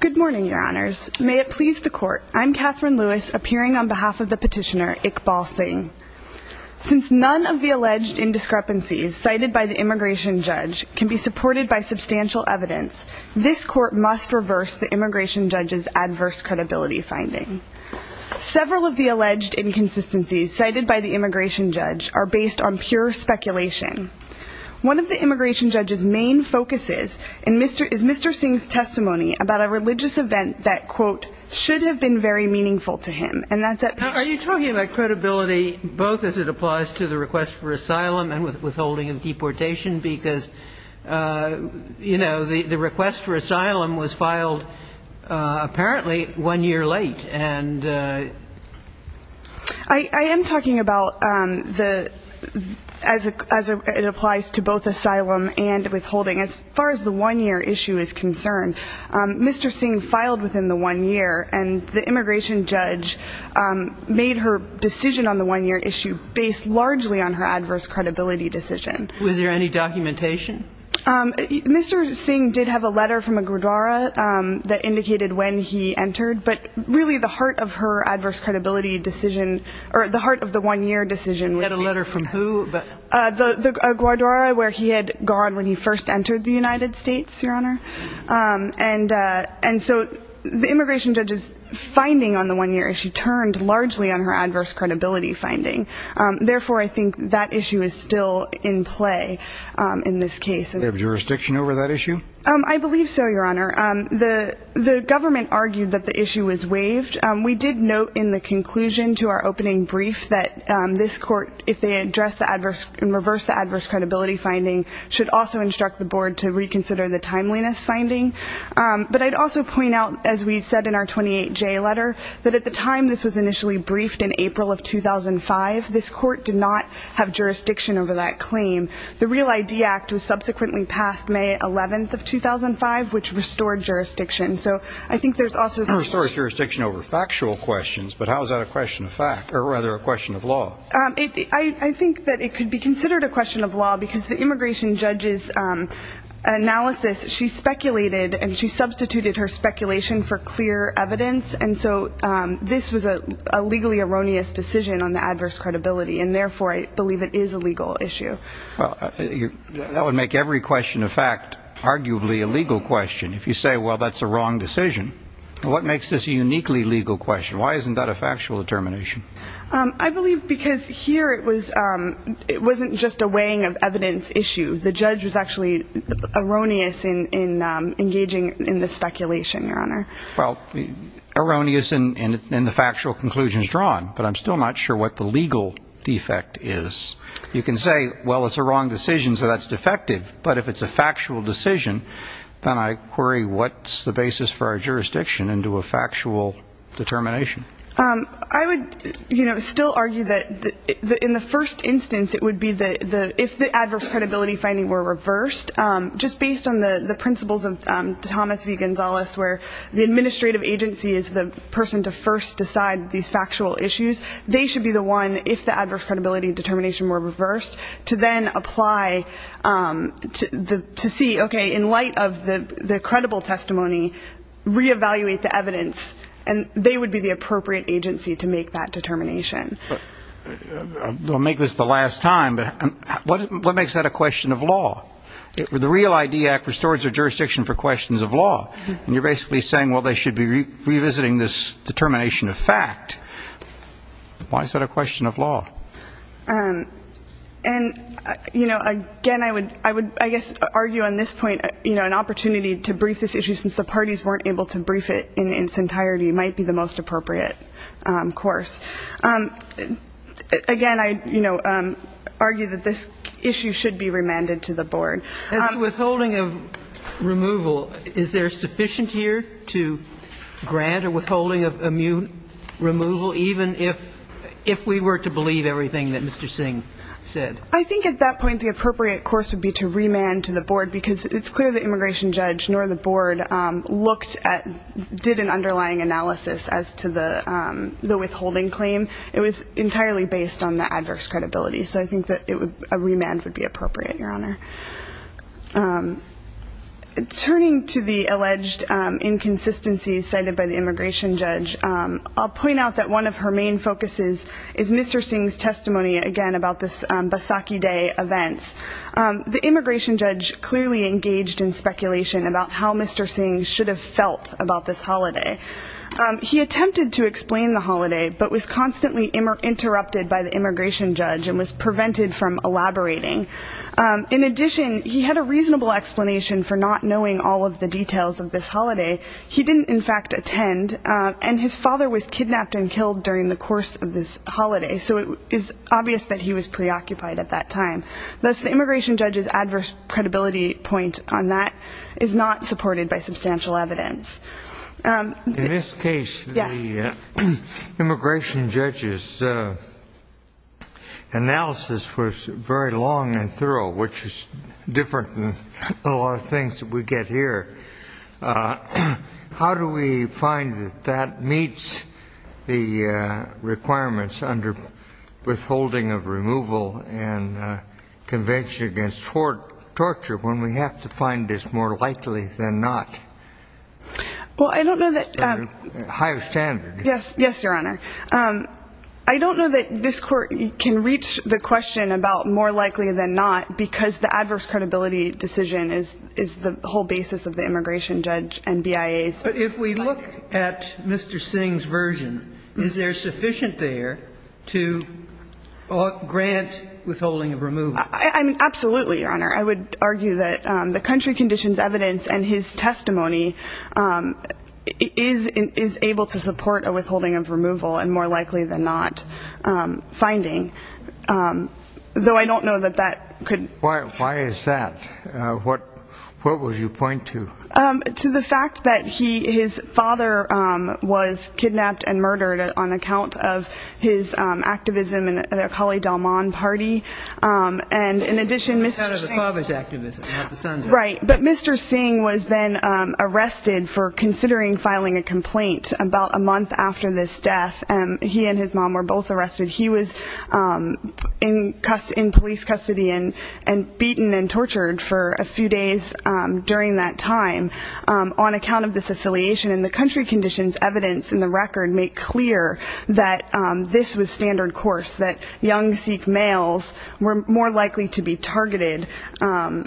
Good morning, your honors. May it please the court, I'm Katherine Lewis, appearing on behalf of the petitioner, Iqbal Singh. Since none of the alleged indiscrepancies cited by the immigration judge can be supported by substantial evidence, this court must reverse the immigration judge's adverse credibility finding. Several of the alleged inconsistencies cited by the immigration judge are based on pure speculation. One of the immigration judge's main focuses is, is Mr. Singh's testimony about a religious event that, quote, should have been very meaningful to him. And that's at peace. Are you talking about credibility, both as it applies to the request for asylum and withholding of deportation? Because, you know, the request for asylum was filed, apparently, one year late, and... I am talking about the, as it applies to both asylum and withholding. As far as I'm concerned, as far as the one-year issue is concerned, Mr. Singh filed within the one year, and the immigration judge made her decision on the one-year issue based largely on her adverse credibility decision. Was there any documentation? Mr. Singh did have a letter from a gurdwara that indicated when he entered, but really the heart of her adverse credibility decision, or the heart of the one-year decision... He had a letter from who? A gurdwara where he had gone when he first entered the United States, Your Honor. And so the immigration judge's finding on the one-year issue turned largely on her adverse credibility finding. Therefore, I think that issue is still in play in this case. Do you have jurisdiction over that issue? I believe so, Your Honor. The government argued that the issue was waived. We did note in the conclusion to our opening brief that this court, if they address the adverse and reverse the adverse credibility finding, should also instruct the board to reconsider the timeliness finding. But I'd also point out, as we said in our 28J letter, that at the time this was initially briefed in April of 2005, this court did not have jurisdiction over that claim. The Real ID Act was subsequently passed May 11th of 2005, which restored jurisdiction. So I think there's also... But how is that a question of fact? Or rather, a question of law? I think that it could be considered a question of law because the immigration judge's analysis, she speculated and she substituted her speculation for clear evidence. And so this was a legally erroneous decision on the adverse credibility. And therefore, I believe it is a legal issue. That would make every question of fact arguably a legal question. If you say, well, that's a wrong decision, what makes this a uniquely legal question? Why isn't that a factual determination? I believe because here it was, it wasn't just a weighing of evidence issue. The judge was actually erroneous in engaging in the speculation, Your Honor. Well, erroneous in the factual conclusions drawn, but I'm still not sure what the legal defect is. You can say, well, it's a wrong decision, so that's defective. But if it's a factual decision, then I query what's the basis for our jurisdiction into a factual determination. I would still argue that in the first instance, it would be if the adverse credibility finding were reversed, just based on the principles of Thomas V. Gonzales, where the administrative agency is the person to first decide these factual issues, they should be the one, if the adverse credibility determination were reversed, to then apply to see, okay, in light of the credible testimony, reevaluate the evidence, and they would be the appropriate agency to make that determination. I'll make this the last time, but what makes that a question of law? The REAL ID Act restores the jurisdiction for questions of law, and you're basically saying, well, they should be revisiting this determination of fact. Why is that a question of law? And, you know, again, I would, I would, I guess, argue on this point, you know, an opportunity to brief this issue, since the parties weren't able to brief it in its entirety, might be the most appropriate course. Again, I, you know, argue that this issue should be remanded to the board. As to withholding of removal, is there sufficient here to grant a withholding of immune removal, even if, if we were to believe everything that Mr. Singh said? I think at that point, the appropriate course would be to remand to the board, because it's clear the immigration judge nor the board looked at, did an underlying analysis as to the, the withholding claim. It was entirely based on the adverse credibility. So I think that it would, a remand would be appropriate, Your Honor. Turning to the alleged inconsistencies cited by the immigration judge, I'll point out that one of her main focuses is Mr. Singh's testimony, again, about this Basaki Day events. The immigration judge clearly engaged in speculation about how Mr. Singh should have felt about this holiday. He attempted to explain the holiday, but was constantly interrupted by the immigration judge and was prevented from elaborating. In addition, he had a reasonable explanation for not knowing all of the details of this holiday. He didn't, in fact, attend, and his father was kidnapped and killed during the course of this holiday. So it is obvious that he was preoccupied at that time. Thus, the immigration judge's adverse credibility point on that is not supported by substantial evidence. In this case, the immigration judge's analysis was very long and thorough, which is different than a lot of things that we get here. How do we find that that meets the requirements under withholding of removal and convention against torture when we have to find this more likely than not? Well, I don't know that... Higher standard. Yes, yes, Your Honor. I don't know that this court can reach the question about more likely than not because the adverse credibility decision is the whole basis of the immigration judge and BIA's... But if we look at Mr. Singh's version, is there sufficient there to grant withholding of removal? I mean, absolutely, Your Honor. I would argue that the country conditions evidence and his testimony is able to support a withholding of removal and more likely than not finding, though I don't know that that could... Why is that? What would you point to? To the fact that his father was kidnapped and murdered on account of his activism in the Akali Dalman party. And in addition, Mr. Singh was then arrested for considering filing a complaint about a month after this death. He and his mom were both arrested. He was in police custody and beaten and tortured for a few days during that time on account of this affiliation. And the country conditions evidence in the record make clear that this was standard course, that young Sikh males were more likely to be targeted. And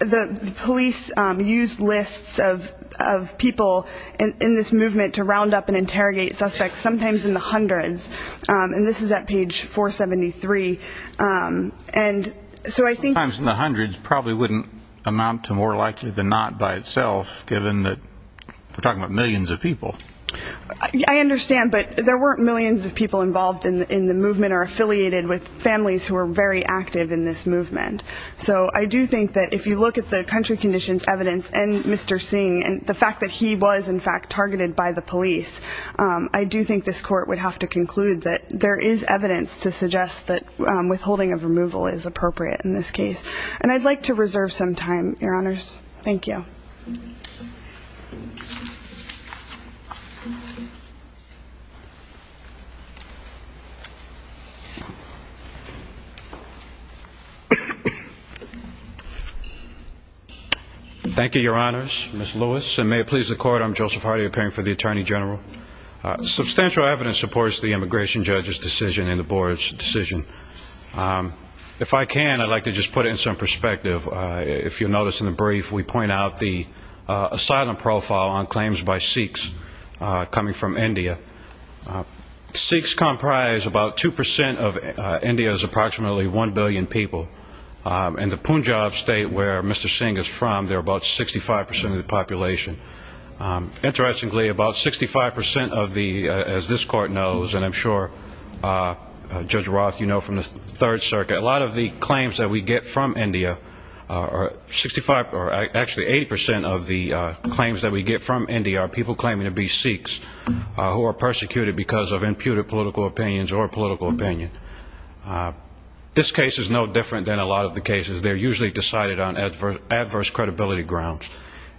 the police used lists of people in this movement to round up and interrogate suspects, sometimes in the hundreds. And this is at page 473. And so I think... Sometimes in the hundreds probably wouldn't amount to more likely than not by itself, given that we're talking about millions of people. I understand, but there weren't millions of people involved in the movement or affiliated with families who were very active in this movement. So I do think that if you look at the country conditions evidence and Mr. Singh and the fact that he was in fact targeted by the police, I do think this court would have to conclude that there is evidence to suggest that withholding of removal is appropriate in this case. And I'd like to reserve some time, Your Honors. Thank you. Thank you, Your Honors. Ms. Lewis, and may it please the court, I'm Joseph Hardy, appearing for the Attorney General. Substantial evidence supports the immigration judge's decision and the board's decision. If I can, I'd like to just put it in some perspective. If you'll notice in the brief, we point out the asylum profile on claims by Sikhs coming from India. Sikhs comprise about 2% of India's approximately 1 billion people. And the Punjab state where Mr. Singh is from, they're about 65% of the population. Interestingly, about 65% of the, as this court knows, and I'm sure Judge Roth, you know from the Third Circuit, a lot of the claims that we get from India are 65, or actually 80% of the claims that we get from India are people claiming to be Sikhs who are persecuted because of imputed political opinions or political opinion. This case is no different than a lot of the cases. They're usually decided on adverse credibility grounds.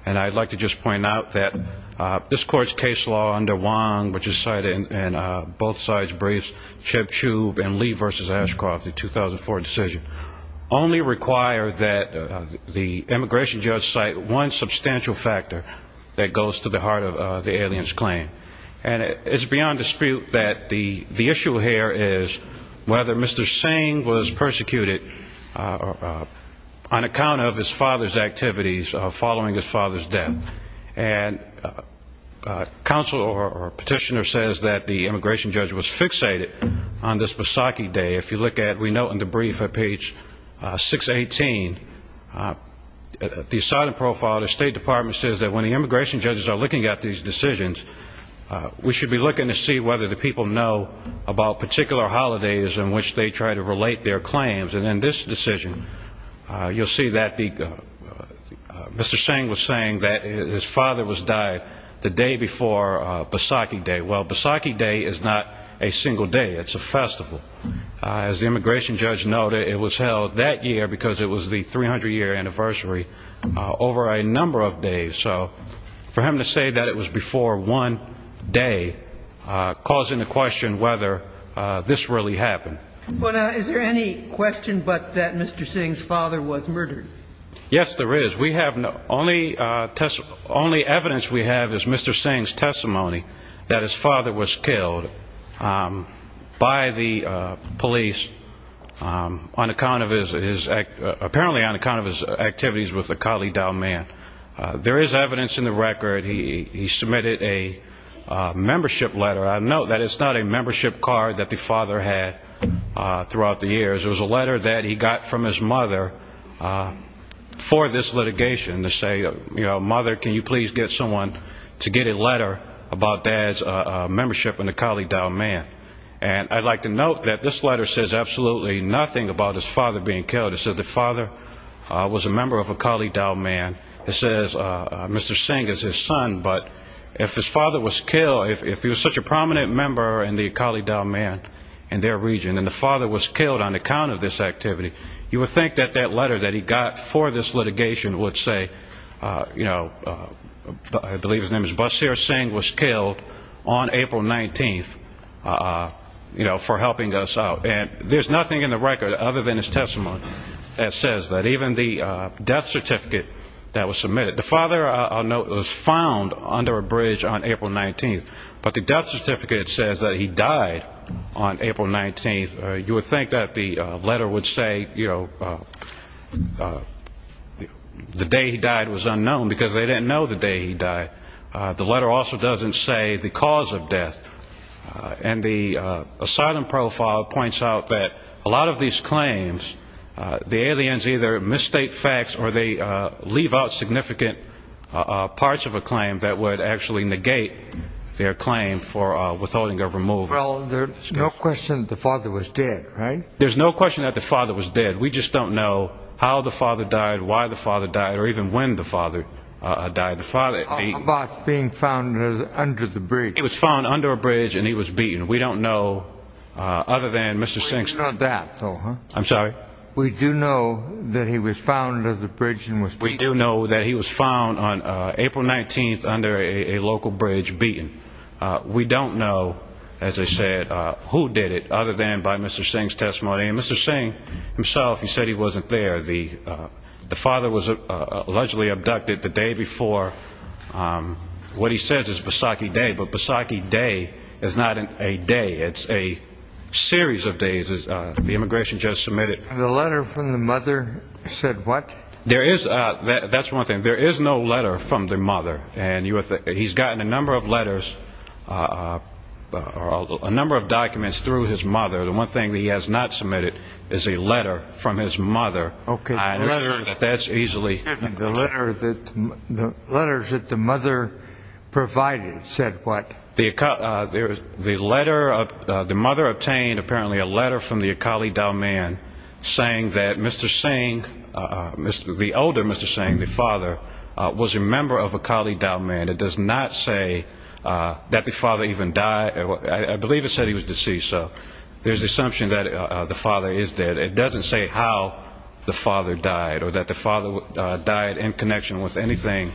And I'd like to just point out that this court's case law under Wong, which is cited in both sides' briefs, Cheb Chubb and Lee v. Ashcroft, the 2004 decision, only require that the immigration judge cite one substantial factor that goes to the heart of the alien's claim. And it's beyond dispute that the issue here is whether Mr. Singh was persecuted on account of his father's activities following his father's death. And counsel or petitioner says that the immigration judge was fixated on this fact. We note in the brief at page 618, the assignment profile of the State Department says that when the immigration judges are looking at these decisions, we should be looking to see whether the people know about particular holidays in which they try to relate their claims. And in this decision, you'll see that the, Mr. Singh was saying that his father was died the day before Basakhi Day. Well, Basakhi Day is not a single day. It's a festival. As the immigration judge noted, it was held that year because it was the 300-year anniversary over a number of days. So for him to say that it was before one day, calls into question whether this really happened. But is there any question but that Mr. Singh's father was murdered? Yes, there is. We have no, only evidence we have is Mr. Singh's testimony that his father was killed by the police on account of his, apparently on account of his activities with the Kalidaw man. There is evidence in the record. He submitted a membership letter. I note that it's not a membership card that the father had throughout the years. It was a letter that he got from his mother for this litigation to say, you know, mother, can you please get someone to get a letter about dad's membership in the Kalidaw man? And I'd like to note that this letter says absolutely nothing about his father being killed. It says the father was a member of a Kalidaw man. It says Mr. Singh is his son, but if his father was killed, if he was such a prominent member in the Kalidaw man and their region and the father was killed on account of this activity, you would think that that letter that he got for this litigation would say, you know, I believe his name is Basir Singh was killed on April 19th, you know, for helping us out. And there's nothing in the record other than his testimony that says that even the death certificate that was submitted, the father I'll note was found under a bridge on April 19th, but the death certificate says that he died on April 19th. You would think that the letter would say, you know, the day he died was unknown because they didn't know the day he died. The letter also doesn't say the cause of death. And the asylum profile points out that a lot of these claims, the aliens either misstate facts or they leave out significant parts of a claim that would actually negate their claim for withholding of removal. Well, there's no question the father was dead, right? There's no question that the father was dead. We just don't know how the father died, why the father died, or even when the father died. The father being found under the bridge, it was found under a bridge and he was beaten. We don't know other than Mr. Singh. So I'm sorry. We do know that he was found at the bridge and was we do know that he was found on April 19th under a local bridge beaten. We don't know, as I said, who did it other than by Mr. Singh's testimony. And Mr. Singh himself, he said he wasn't there. The father was allegedly abducted the day before. What he says is Bissaki Day, but Bissaki Day is not a day. It's a series of days, as the immigration judge submitted. The letter from the mother said what? There is, that's one thing. There is no letter from the mother. And he's gotten a number of letters, a number of documents through his mother. The one thing that he has not submitted is a letter from his mother. Okay. I assure you that that's easily. The letter that, the letters that the mother provided said what? The letter, the mother obtained apparently a letter from the Akali Dalman saying that Mr. Singh, the older Mr. Singh, the father was a member of Akali Dalman. It does not say that the father even died. I believe it said he was deceased. So there's the assumption that the father is dead. It doesn't say how the father died or that the father died in connection with anything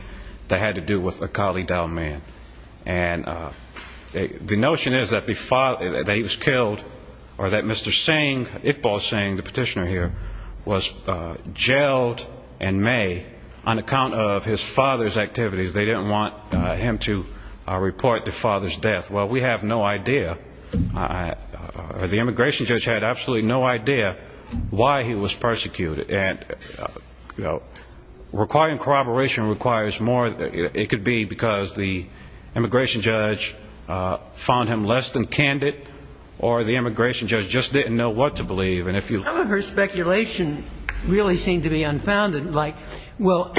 that had to do with Akali Dalman. And the notion is that the father, that he was killed or that Mr. Singh, Iqbal Singh, the petitioner here, was jailed in May on account of his father's activities. They didn't want him to report the father's death. Well, we have no idea. The immigration judge had absolutely no idea why he was persecuted. And requiring corroboration requires more, it could be because the immigration judge found him less than candid or the immigration judge just didn't know what to believe. And if you Some of her speculation really seemed to be unfounded. Like, well,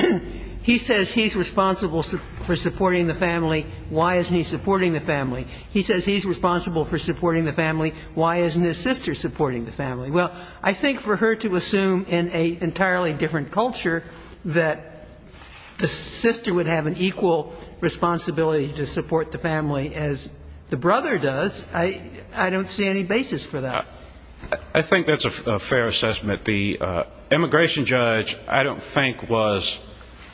he says he's responsible for supporting the family. Why isn't he supporting the family? He says he's responsible for supporting the family. Why isn't his sister supporting the family? Well, I think for her to assume in an entirely different culture that the sister would have an equal responsibility to support the family as the brother does, I don't see any basis for that. I think that's a fair assessment. The immigration judge, I don't think, was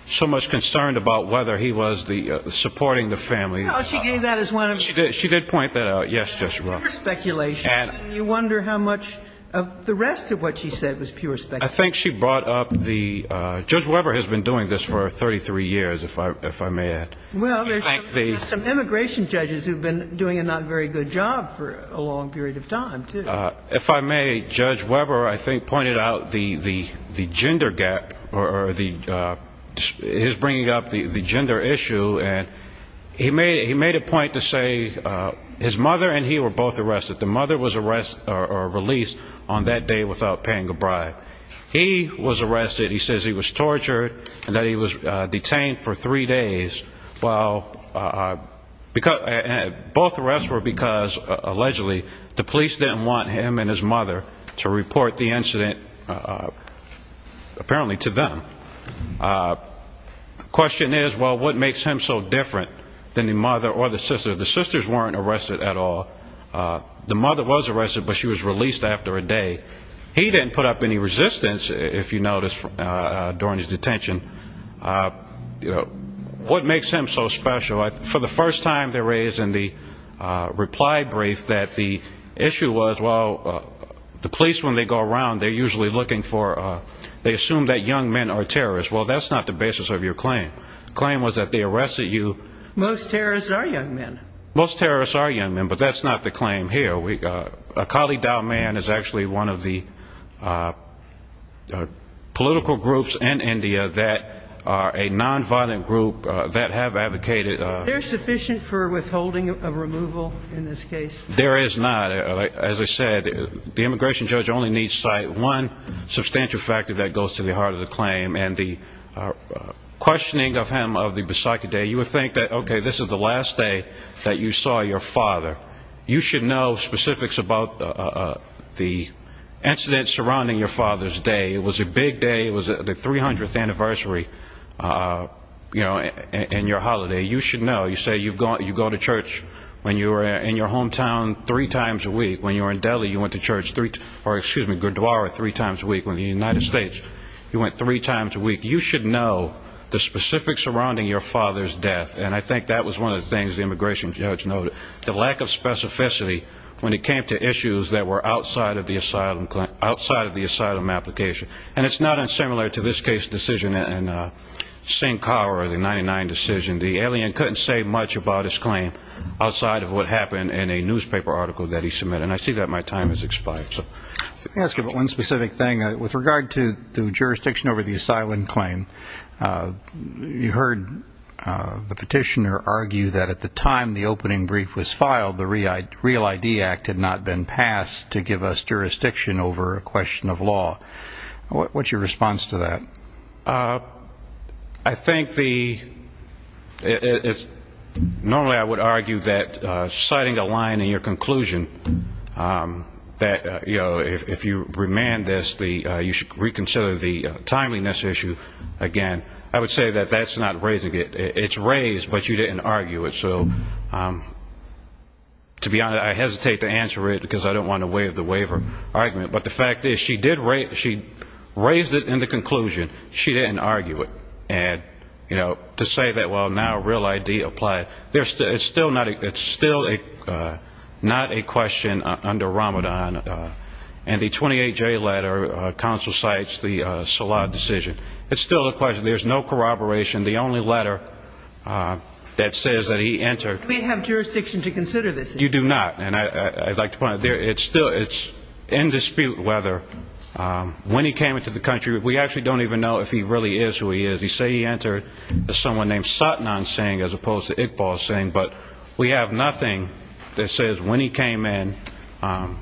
so much concerned about whether he was supporting the family. No, she gave that as one of her She did point that out. Yes, yes, Your Honor. Pure speculation. And you wonder how much of the rest of what she said was pure speculation. I think she brought up the, Judge Weber has been doing this for 33 years, if I may add. Well, there's some immigration judges who've been doing a not very good job for a long period of time, too. If I may, Judge Weber, I think, pointed out the gender gap or his bringing up the gender issue and he made a point to say his mother and he were both arrested. The mother was paying a bribe. He was arrested. He says he was tortured and that he was detained for three days. Well, both arrests were because, allegedly, the police didn't want him and his mother to report the incident, apparently, to them. The question is, well, what makes him so different than the mother or the sister? The sisters weren't arrested at all. The mother was arrested, but she was released after a day. He didn't put up any resistance, if you notice, during his detention. What makes him so special? For the first time, they raised in the reply brief that the issue was, well, the police, when they go around, they're usually looking for, they assume that young men are terrorists. Well, that's not the basis of your claim. The claim was that they arrested you. Most terrorists are young men. Most terrorists are young men, but that's not the claim here. A colleague down there in Afghanistan is actually one of the political groups in India that are a nonviolent group that have advocated. They're sufficient for withholding a removal in this case? There is not. As I said, the immigration judge only needs to cite one substantial factor that goes to the heart of the claim, and the questioning of him of the Bisaki Day. You would think that, okay, this is the last day that you saw your father. You should know specifics about the incident surrounding your father's day. It was a big day. It was the 300th anniversary, you know, and your holiday. You should know. You say you go to church when you're in your hometown three times a week. When you're in Delhi, you went to church three, or excuse me, Gurdwara three times a week. When you're in the United States, you went three times a week. You should know the specifics surrounding your father's death, and I think that was one of the things the immigration judge noted, the lack of specificity when it came to issues that were outside of the asylum application, and it's not unsimilar to this case decision in Singh Kaur, the 99 decision. The alien couldn't say much about his claim outside of what happened in a newspaper article that he submitted, and I see that my time has expired. Let me ask you about one specific thing. With regard to jurisdiction over the asylum claim, you heard the petitioner argue that at the time the opening brief was filed, the Real I.D. Act had not been passed to give us jurisdiction over a question of law. What's your response to that? I think the ñ normally I would argue that citing a line in your conclusion that, you remand this, you should reconsider the timeliness issue, again, I would say that that's not raising it. It's raised, but you didn't argue it. So to be honest, I hesitate to answer it because I don't want to waive the waiver argument, but the fact is, she did raise it in the conclusion. She didn't argue it. And to say that, well, now Real I.D. applied, it's still not a ñ it's still not a question under Ramadan. And the 28-J letter counsel cites the Salah decision. It's still a question. There's no corroboration. The only letter that says that he entered ñ We have jurisdiction to consider this issue. You do not. And I'd like to point out, it's still ñ it's in dispute whether, when he came into the country, we actually don't even know if he really is who he is. They say he is, but we have nothing that says when he came in,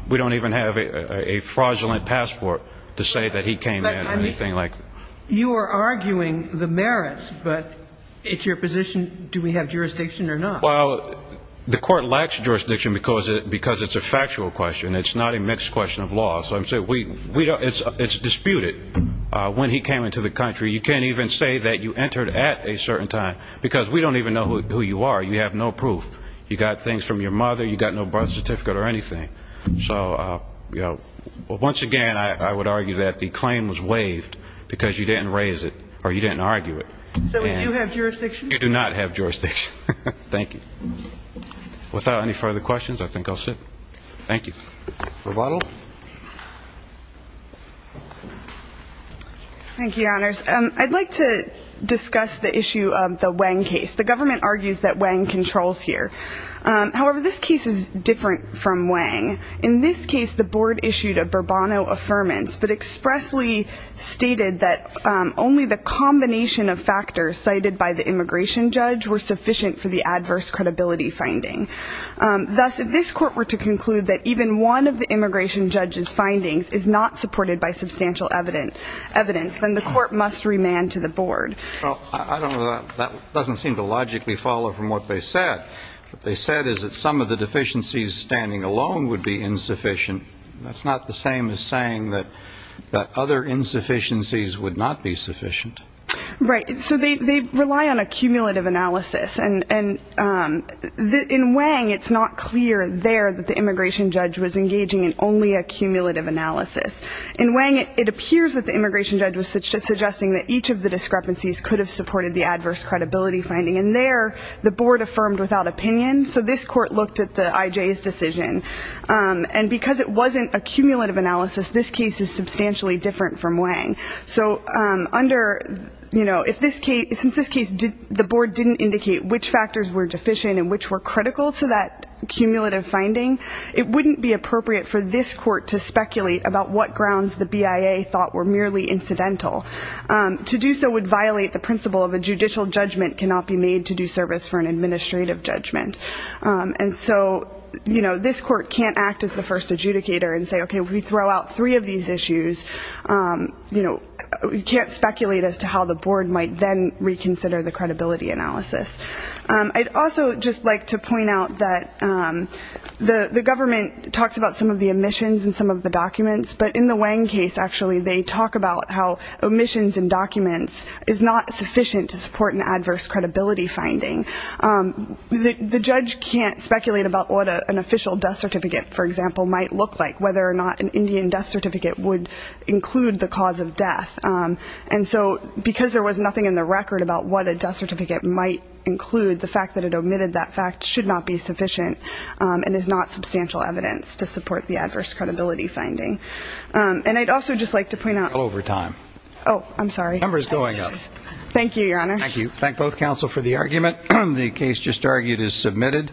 we don't even have a fraudulent passport to say that he came in or anything like that. You are arguing the merits, but it's your position, do we have jurisdiction or not? Well, the court lacks jurisdiction because it's a factual question. It's not a mixed question of law. So I'm saying, it's disputed. When he came into the country, you can't even say that you entered at a certain time, because we don't even know who you are. You have no proof. You got things from your mother. You got no birth certificate or anything. So, once again, I would argue that the claim was waived because you didn't raise it, or you didn't argue it. So we do have jurisdiction? You do not have jurisdiction. Thank you. Without any further questions, I think I'll sit. Thank you. Thank you, Your Honors. I'd like to discuss the issue of the Wang case. The government argues that Wang controls here. However, this case is different from Wang. In this case, the board issued a Bourbonno Affirmance, but expressly stated that only the combination of factors cited by the immigration judge were sufficient for the adverse credibility finding. Thus, if this court were to conclude that even one of the immigration judge's findings is not supported by substantial evidence, then the court must remand to the board. Well, I don't know. That doesn't seem to logically follow from what they said. What they said is that some of the deficiencies standing alone would be insufficient. That's not the same as saying that other insufficiencies would not be sufficient. Right. So they rely on a cumulative analysis. And in Wang, it's not clear there that the immigration judge was engaging in only a cumulative analysis. In Wang, it appears that the immigration judge was just suggesting that each of the discrepancies could have supported the adverse credibility finding. And there, the board affirmed without opinion. So this court looked at the IJ's decision. And because it wasn't a cumulative analysis, this case is substantially different from Wang. So under, you know, if this case, since this case, the board didn't indicate which factors were deficient and which were critical to that cumulative finding, it wouldn't be appropriate for this court to speculate about what grounds the BIA thought were merely incidental. To do so would violate the principle of a judicial judgment cannot be made to do service for an administrative judgment. And so, you know, this court can't act as the first adjudicator and say, okay, if we throw out three of these issues, you know, we can't speculate as to how the board might then reconsider the credibility analysis. I'd also just like to point out that the government talks about some of the omissions and some of the documents. But in the Wang case, actually, they talk about how omissions and documents is not sufficient to support an adverse credibility finding. The judge can't speculate about what an official death certificate, for example, might look like, whether or not an Indian death certificate would include the cause of death. And so because there was nothing in the record about what a death certificate might include, the fact that it omitted that fact should not be sufficient and is not substantial evidence to support the adverse credibility finding. And I'd also just like to point out... Over time. Oh, I'm sorry. Number's going up. Thank you, Your Honor. Thank you. Thank both counsel for the argument. The case just argued is submitted.